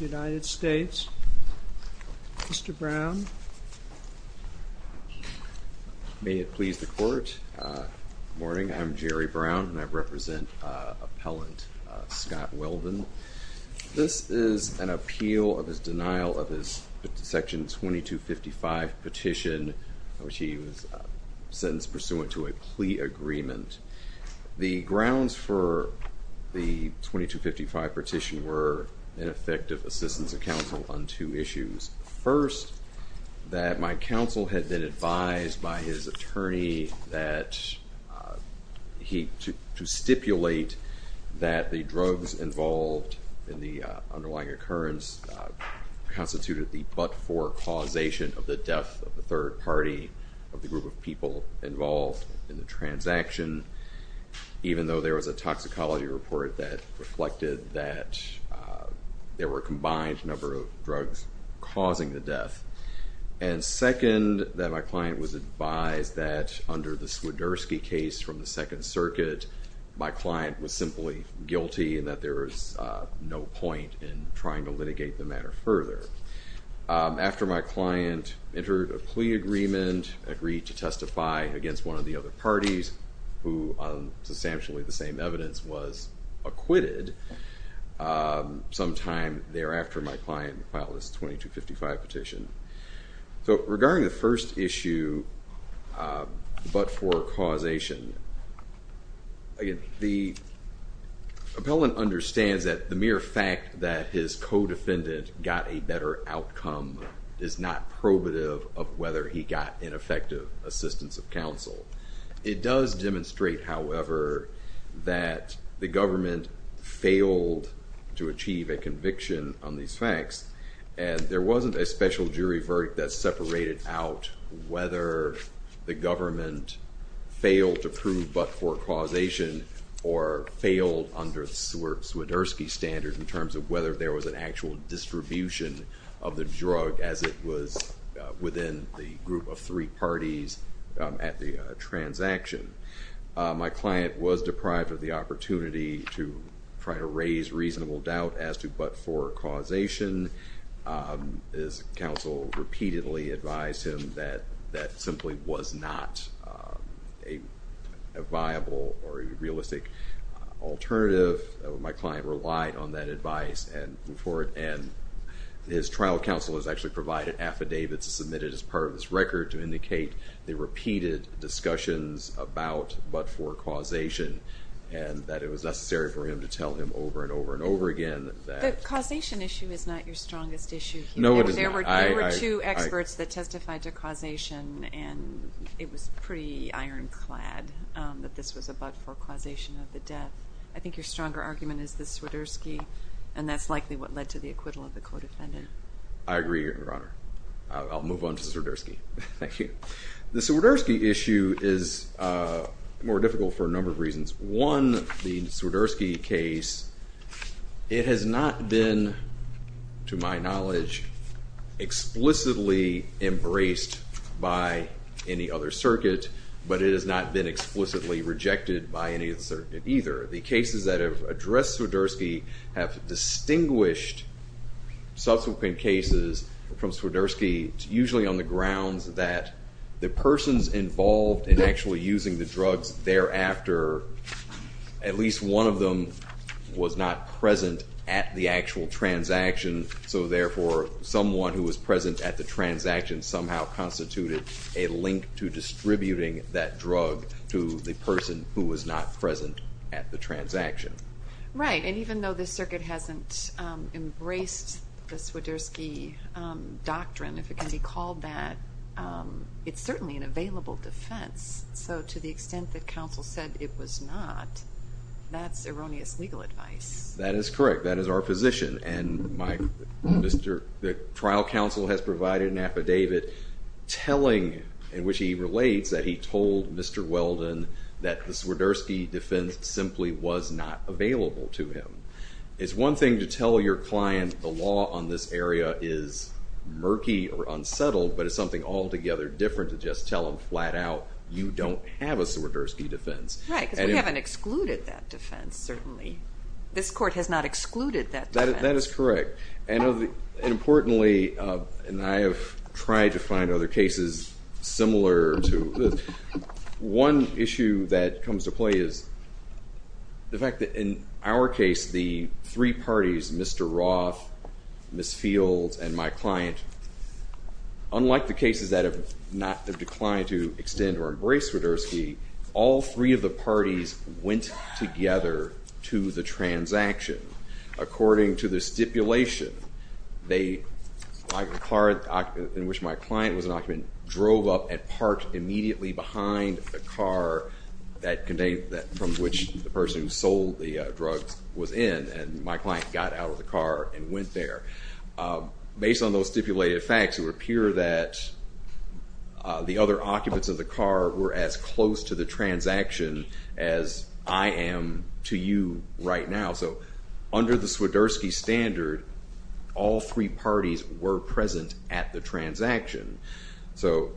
United States. Mr. Brown. May it please the court. Good morning, I'm Jerry Brown and I represent appellant Scott Weldon. This is an appeal of his denial of his section 2255 petition, which he was sentenced pursuant to a plea agreement. The grounds for the 2255 petition were ineffective assistance of counsel on two issues. First, that my counsel had been advised by his attorney that he to stipulate that the drugs involved in the underlying occurrence constituted the but-for causation of the death of the third party of the group of people involved in the transaction, even though there was a toxicology report that reflected that there were combined number of drugs causing the death. And second, that my client was advised that under the Swiderski case from the Second Circuit, my client was simply guilty and that there was no point in trying to litigate the matter further. After my client entered a plea agreement, agreed to testify against one of the other parties, who on substantially the same evidence was acquitted, sometime thereafter my client filed this 2255 petition. So regarding the first issue, but-for-causation, the appellant understands that the mere fact that his co-defendant got a better outcome is not probative of whether he got ineffective assistance of counsel. It does demonstrate, however, that the government failed to achieve a conviction on these facts and there wasn't a special jury verdict that separated out whether the government failed to prove but-for-causation or failed under the Swiderski standard in terms of whether there was an actual distribution of the within the group of three parties at the transaction. My client was deprived of the opportunity to try to raise reasonable doubt as to but-for-causation. His counsel repeatedly advised him that that simply was not a viable or realistic alternative. My client relied on that advice and before it and his trial counsel has actually provided affidavits submitted as part of this record to indicate the repeated discussions about but-for-causation and that it was necessary for him to tell him over and over and over again that... The causation issue is not your strongest issue. There were two experts that testified to causation and it was pretty ironclad that this was a but-for-causation of the death. I think your stronger argument is the Swiderski and that's likely what I agree your honor. I'll move on to the Swiderski. Thank you. The Swiderski issue is more difficult for a number of reasons. One the Swiderski case it has not been to my knowledge explicitly embraced by any other circuit but it has not been explicitly rejected by any of the circuit either. The cases that have addressed Swiderski have distinguished subsequent cases from Swiderski usually on the grounds that the person's involved in actually using the drugs thereafter at least one of them was not present at the actual transaction so therefore someone who was present at the transaction somehow constituted a link to distributing that drug to the person who was not present at the transaction. Right and even though this circuit hasn't embraced the Swiderski doctrine if it can be called that it's certainly an available defense so to the extent that counsel said it was not that's erroneous legal advice. That is correct that is our position and my Mr. the trial counsel has provided an affidavit telling in which he relates that he told Mr. Weldon that the Swiderski defense simply was not available to him. It's one thing to tell your client the law on this area is murky or unsettled but it's something altogether different to just tell them flat-out you don't have a Swiderski defense. Right because we haven't excluded that defense certainly. This court has not excluded that. That is correct and importantly and I have tried to find other cases similar to this one issue that comes to play is the fact that in our case the three parties Mr. Roth, Ms. Fields and my client unlike the cases that have not declined to extend or embrace Swiderski all three of the parties went together to the transaction according to the stipulation they like the car in which my client was an parked immediately behind a car that contained that from which the person who sold the drugs was in and my client got out of the car and went there. Based on those stipulated facts who appear that the other occupants of the car were as close to the transaction as I am to you right now. So under the Swiderski standard all three parties were present at the transaction. So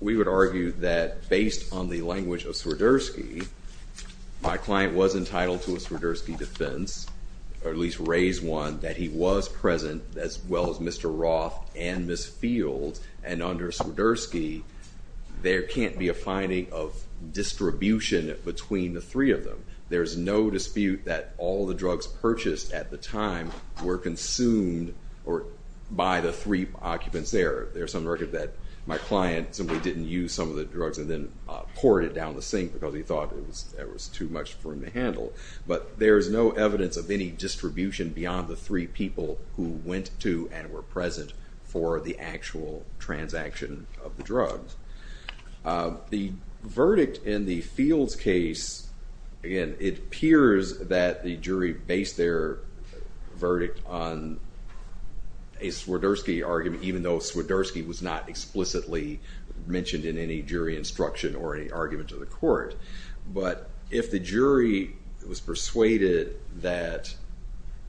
we would argue that based on the language of Swiderski my client was entitled to a Swiderski defense or at least raise one that he was present as well as Mr. Roth and Ms. Fields and under Swiderski there can't be a finding of distribution between the were consumed or by the three occupants there. There's some record that my client simply didn't use some of the drugs and then poured it down the sink because he thought it was too much for him to handle but there's no evidence of any distribution beyond the three people who went to and were present for the actual transaction of the drugs. The verdict in the Fields case again it appears that the jury based their verdict on a Swiderski argument even though Swiderski was not explicitly mentioned in any jury instruction or any argument to the court but if the jury was persuaded that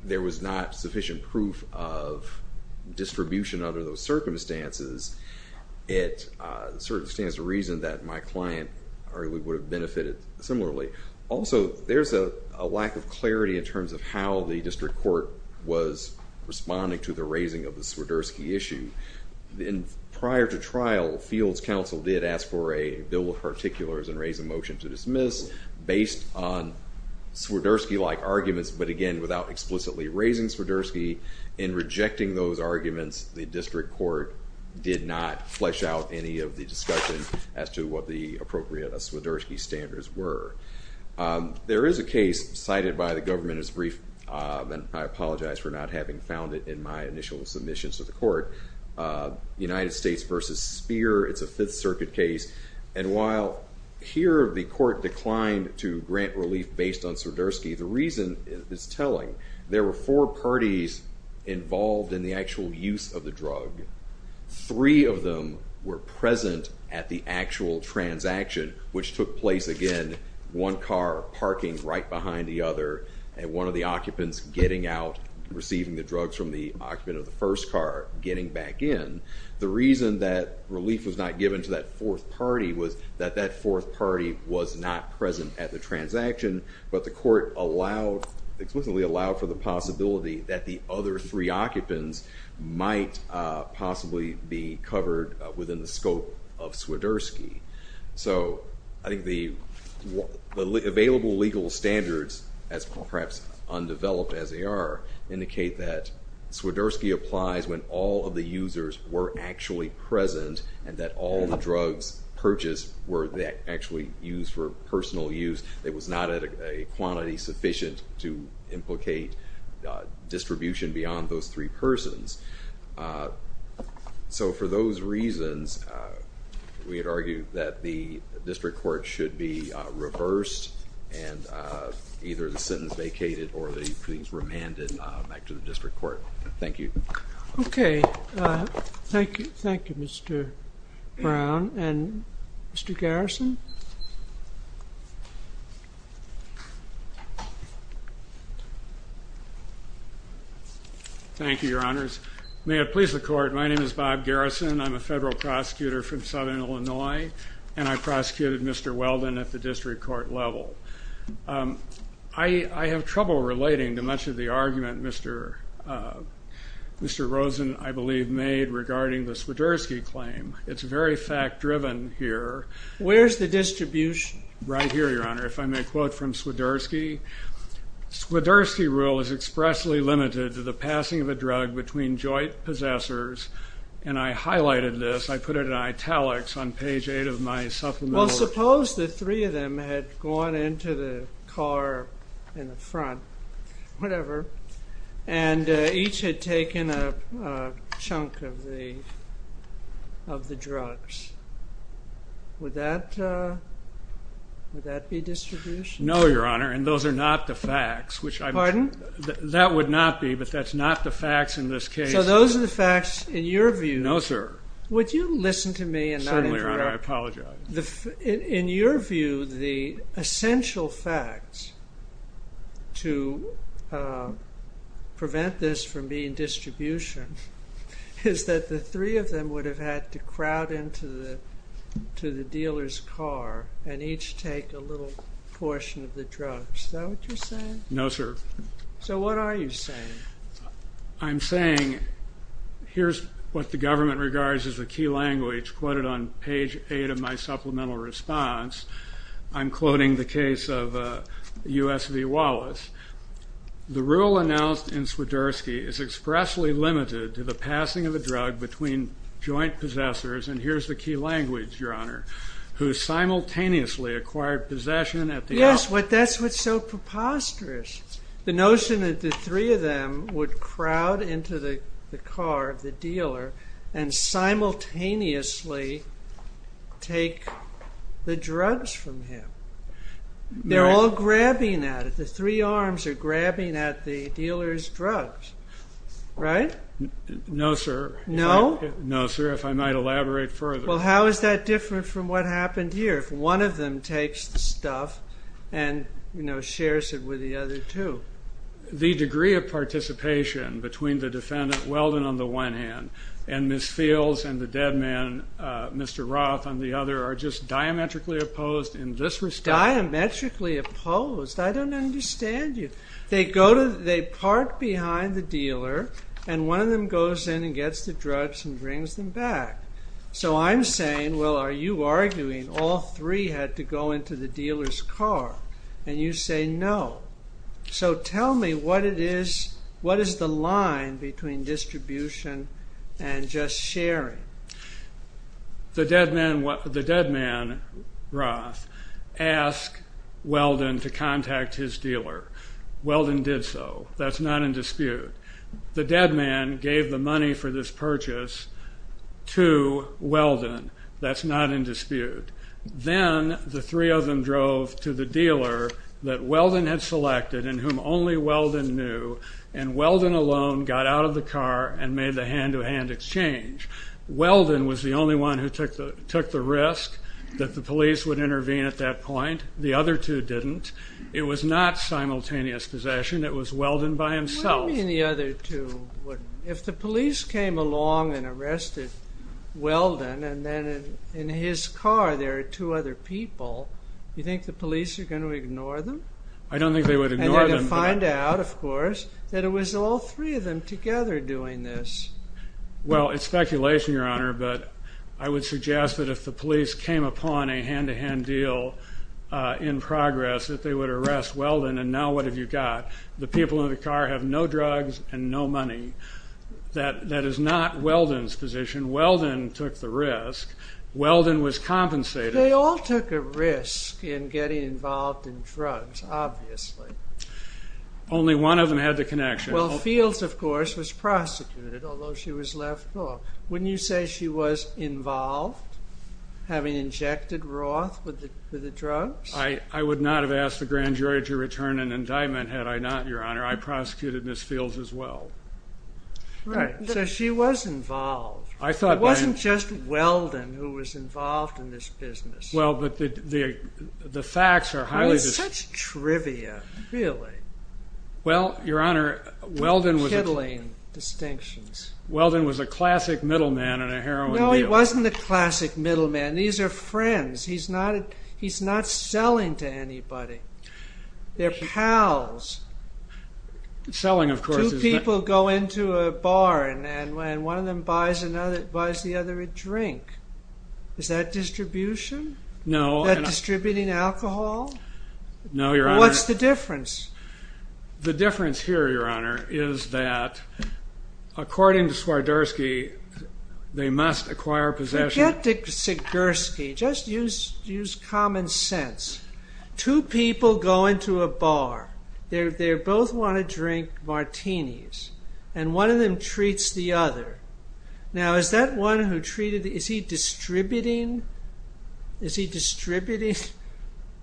there was not sufficient proof of distribution under those circumstances it certainly stands to reason that my client would have benefited similarly. Also there's a lack of clarity in terms of how the district court was responding to the raising of the Swiderski issue. Then prior to trial Fields counsel did ask for a bill of particulars and raise a motion to dismiss based on Swiderski like arguments but again without explicitly raising Swiderski and rejecting those arguments the district court did not flesh out any of the discussion as to what the appropriate Swiderski standards were. There is a case cited by the government as brief and I apologize for not having found it in my initial submissions to the court United States versus Speer it's a Fifth Circuit case and while here the court declined to grant relief based on Swiderski the reason is telling. There were four parties involved in the actual use of the drug. Three of them were present at the actual transaction which took place again one car parking right behind the other and one of the occupants getting out receiving the drugs from the occupant of the first car getting back in. The reason that relief was not given to that fourth party was that that fourth party was not present at the transaction but the court allowed explicitly allowed for the possibility that the other three occupants might possibly be covered within the scope of Swiderski. So I think the available legal standards as perhaps undeveloped as they are indicate that Swiderski applies when all of the users were actually present and that all the drugs purchased were that actually used for personal use. It was not at a quantity sufficient to implicate distribution beyond those three persons. So for those reasons we had argued that the district court should be reversed and either the sentence vacated or they please remanded back to the district court. Thank you. Okay thank you thank you Mr. Brown and Mr. Garrison. Thank you your honors. May it please the court my name is Bob Garrison I'm a federal prosecutor from Southern Illinois and I prosecuted Mr. Weldon at the district court level. I have trouble relating to much of the argument Mr. Rosen I believe made regarding the Swiderski claim. It's very fact-driven here. Where's the distribution? Right here your honor if I may quote from Swiderski. Swiderski rule is expressly limited to the passing of a drug between joint possessors and I highlighted this I put it in italics on page 8 of my supplement. Well suppose the three of them had gone into the car in the front whatever and each had taken a chunk of the of the drugs. Would that be distribution? No your honor and those are not the facts. Pardon? That would not be but that's not the facts in this case. So those are the facts in your view. No sir. Would you listen to me and not interrupt? Certainly your honor I apologize. In your view the prevent this from being distribution is that the three of them would have had to crowd into the to the dealer's car and each take a little portion of the drugs. Is that what you're saying? No sir. So what are you saying? I'm saying here's what the government regards as a key language quoted on page 8 of my supplemental response. I'm quoting the case of USV Wallace. The rule announced in Swiderski is expressly limited to the passing of a drug between joint possessors and here's the key language your honor who simultaneously acquired possession at the. Yes what that's what's so preposterous. The notion that the three of them would crowd into the car of the dealer and simultaneously take the drugs from him. They're all grabbing at it. The three arms are grabbing at the dealer's drugs. Right? No sir. No? No sir if I might elaborate further. Well how is that different from what happened here? If one of them takes the stuff and you know participation between the defendant Weldon on the one hand and Miss Fields and the dead man Mr. Roth on the other are just diametrically opposed in this respect. Diametrically opposed? I don't understand you. They go to they park behind the dealer and one of them goes in and gets the drugs and brings them back. So I'm saying well are you arguing all three had to go into the dealer's car? No. So tell me what it is what is the line between distribution and just sharing? The dead man Roth asked Weldon to contact his dealer. Weldon did so. That's not in dispute. The dead man gave the money for this purchase to Weldon. That's not in dispute. Then the three of them drove to the dealer that Weldon had selected and whom only Weldon knew and Weldon alone got out of the car and made the hand-to-hand exchange. Weldon was the only one who took the took the risk that the police would intervene at that point. The other two didn't. It was not simultaneous possession. It was Weldon by himself. What do you mean the other two wouldn't? If the police came along and arrested Weldon and then in his car there are two other people, you think the police are going to ignore them? I don't think they would ignore them. And they would find out of course that it was all three of them together doing this. Well it's speculation your honor but I would suggest that if the police came upon a hand-to-hand deal in progress that they would arrest Weldon and now what have you got? The people in the car have no drugs and no money. That is not Weldon's position. Weldon took the risk. Weldon was compensated. They all took a risk in getting involved in drugs. Obviously. Only one of them had the connection. Well Fields of course was prosecuted although she was left off. Wouldn't you say she was involved having injected Roth with the drugs? I would not have asked the grand jury to return an indictment had I not your honor. I prosecuted Miss Fields as well. Right. So she was involved. It wasn't just Weldon who was involved in this business. Well but the facts are highly disputed. It's such trivia really. Well your honor Weldon was a classic middle man in a heroin deal. No he wasn't a classic middle man. These are friends. He's not selling to anybody. They're pals. Selling of course. Two people go into a bar and one of them buys the other a drink. Is that distribution? No. Is that distributing alcohol? No your honor. What's the difference? The difference here your honor is that according to Swarderski they must acquire possession. Forget Swarderski. Just use common sense. Two people go into a bar. They both want to drink martinis and one of them treats the other. Now is that one who treated the other, is he distributing? Is he distributing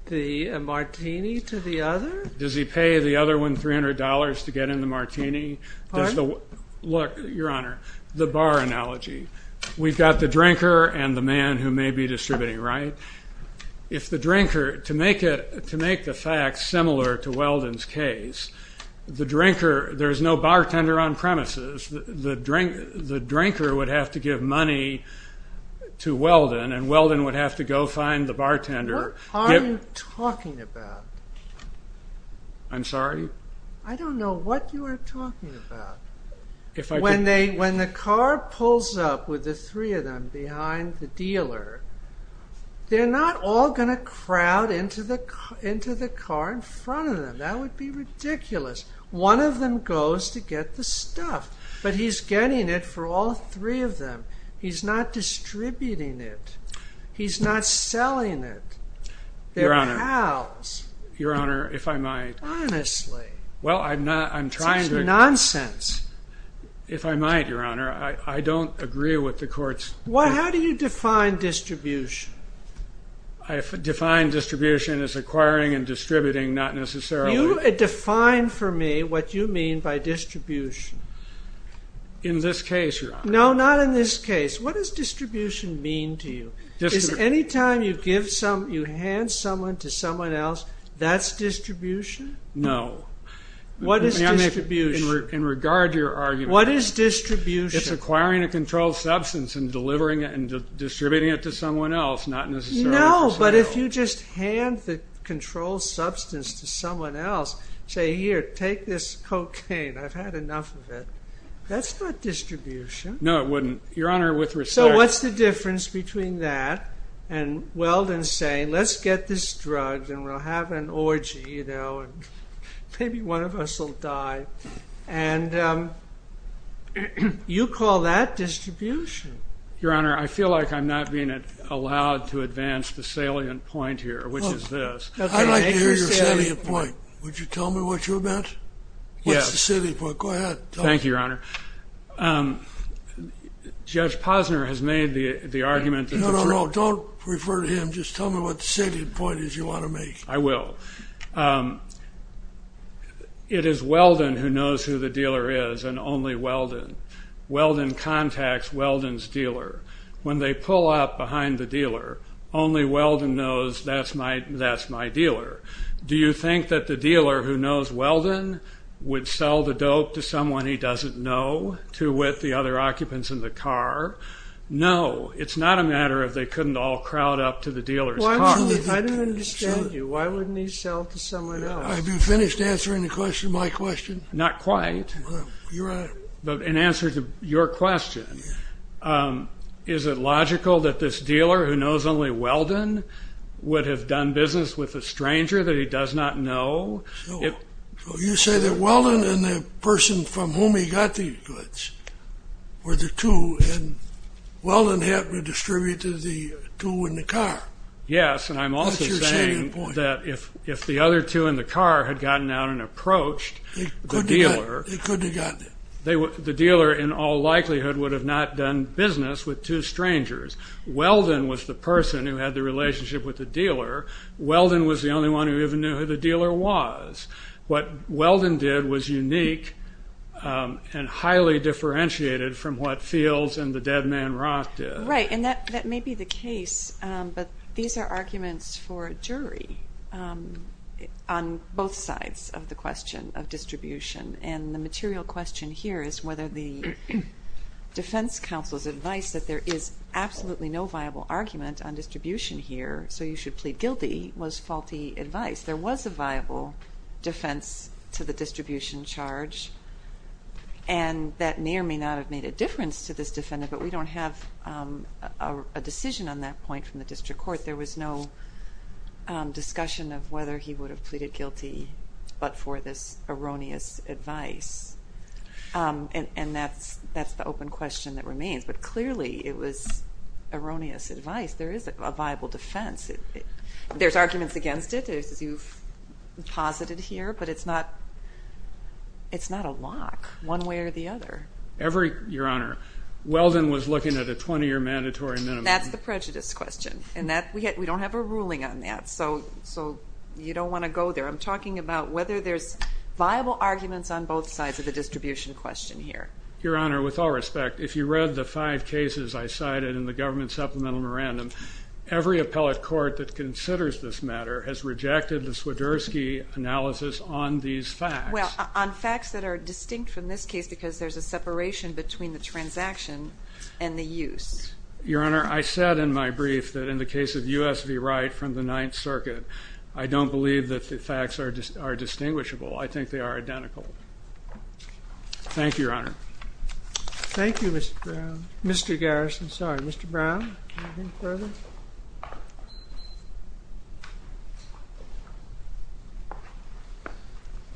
the martini to the other? Does he pay the other one $300 to get in the martini? Pardon? Look your honor, the bar analogy. We've got the drinker and the man who may be distributing right? What are you talking about? I'm sorry? I don't know what you are talking about. When the car pulls up with the three of them behind the dealer, they're not all going to crowd into the car in front of them. That would be ridiculous. One of them goes to get the stuff. But he's getting it for all three of them. He's not distributing it. He's not selling it. They're pals. Your honor, if I might. Honestly. It's nonsense. If I might your honor, I don't agree with the courts. How do you define distribution? I define distribution as acquiring and distributing, not necessarily. You define for me what you mean by distribution. In this case your honor. No, not in this case. What does distribution mean to you? Anytime you give someone, you hand someone to someone else, that's distribution? No. What is distribution? In regard to your argument. What is distribution? It's acquiring a controlled substance and delivering it and distributing it to someone else, not necessarily. No, but if you just hand the controlled substance to someone else, say here, take this cocaine. I've had enough of it. That's not distribution. So what's the difference between that and Weldon saying, let's get this drugged and we'll have an orgy, you know, and maybe one of us will die. And you call that distribution. Your honor, I feel like I'm not being allowed to advance the salient point here, which is this. I'd like to hear your salient point. Would you tell me what you meant? What's the salient point? Go ahead. Thank you, your honor. Judge Posner has made the argument. No, no, no. Don't refer to him. Just tell me what the salient point is you want to make. I will. It is Weldon who knows who the dealer is and only Weldon. Weldon contacts Weldon's dealer. When they pull up behind the dealer, only Weldon knows that's my dealer. Do you think that the dealer who knows Weldon would sell the dope to someone he doesn't know, to wit the other occupants in the car? No. It's not a matter of they couldn't all crowd up to the dealer's car. I don't understand you. Why wouldn't he sell to someone else? Have you finished answering the question, my question? Not quite. Your honor. But in answer to your question, is it logical that this dealer who knows only Weldon would have done business with a stranger that he does not know? So you say that Weldon and the person from whom he got these goods were the two, and Weldon happened to distribute to the two in the car. That's your salient point. Yes, and I'm also saying that if the other two in the car had gotten out and approached the dealer... Right, and that may be the case, but these are arguments for jury on both sides of the question of distribution, and the material question here is whether the defense counsel's advice that there is absolutely no viable argument on distribution here, so you should plead guilty, was faulty advice. There was a viable defense to the distribution charge, and that may or may not have made a difference to this defendant, but we don't have a decision on that point from the district court. There was no discussion of whether he would have pleaded guilty but for this erroneous advice, and that's the open question that remains, but clearly it was erroneous advice. There is a viable defense. There's arguments against it, as you've posited here, but it's not a lock one way or the other. Your Honor, Weldon was looking at a 20-year mandatory minimum. That's the prejudice question, and we don't have a ruling on that, so you don't want to go there. I'm talking about whether there's viable arguments on both sides of the distribution question here. Your Honor, with all respect, if you read the five cases I cited in the government supplemental memorandum, every appellate court that considers this matter has rejected the Swiderski analysis on these facts. Well, on facts that are distinct from this case because there's a separation between the transaction and the use. Your Honor, I said in my brief that in the case of U.S. v. Wright from the Ninth Circuit, I don't believe that the facts are distinguishable. I think they are identical. Thank you, Your Honor. Thank you, Mr. Brown. Mr. Garrison, sorry. Mr. Brown, anything further? I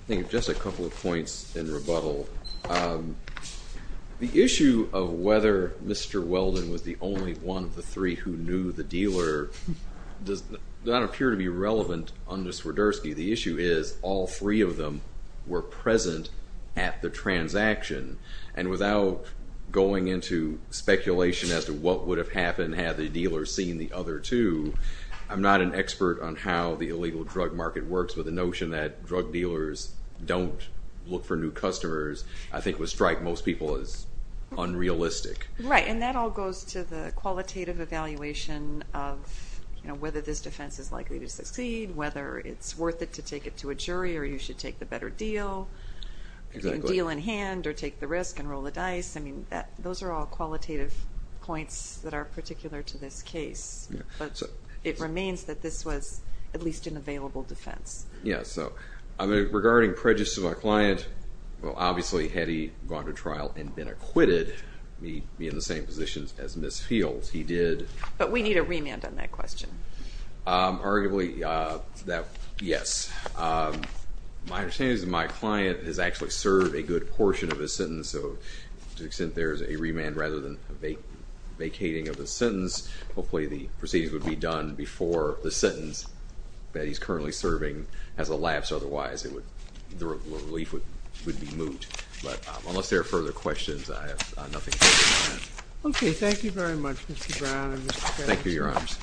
think just a couple of points in rebuttal. The issue of whether Mr. Weldon was the only one of the three who knew the dealer does not appear to be relevant under Swiderski. The issue is all three of them were present at the transaction, and without going into speculation as to what would have happened had the dealer seen the other two, I'm not an expert on how the illegal drug market works, but the notion that drug dealers don't look for new customers I think would strike most people as unrealistic. Right, and that all goes to the qualitative evaluation of whether this defense is likely to succeed, whether it's worth it to take it to a jury, or you should take the better deal. You can deal in hand or take the risk and roll the dice. Those are all qualitative points that are particular to this case, but it remains that this was at least an available defense. Regarding prejudice to my client, obviously had he gone to trial and been acquitted, he'd be in the same position as Ms. Fields. He did. But we need a remand on that question. Arguably, yes. My understanding is that my client has actually served a good portion of his sentence, so to the extent there's a remand rather than a vacating of the sentence, hopefully the proceedings would be done before the sentence that he's currently serving has elapsed. Otherwise, the relief would be moot. But unless there are further questions, I have nothing further to add. Okay, thank you very much, Mr. Brown and Mr. Kessler. Thank you, Your Honors.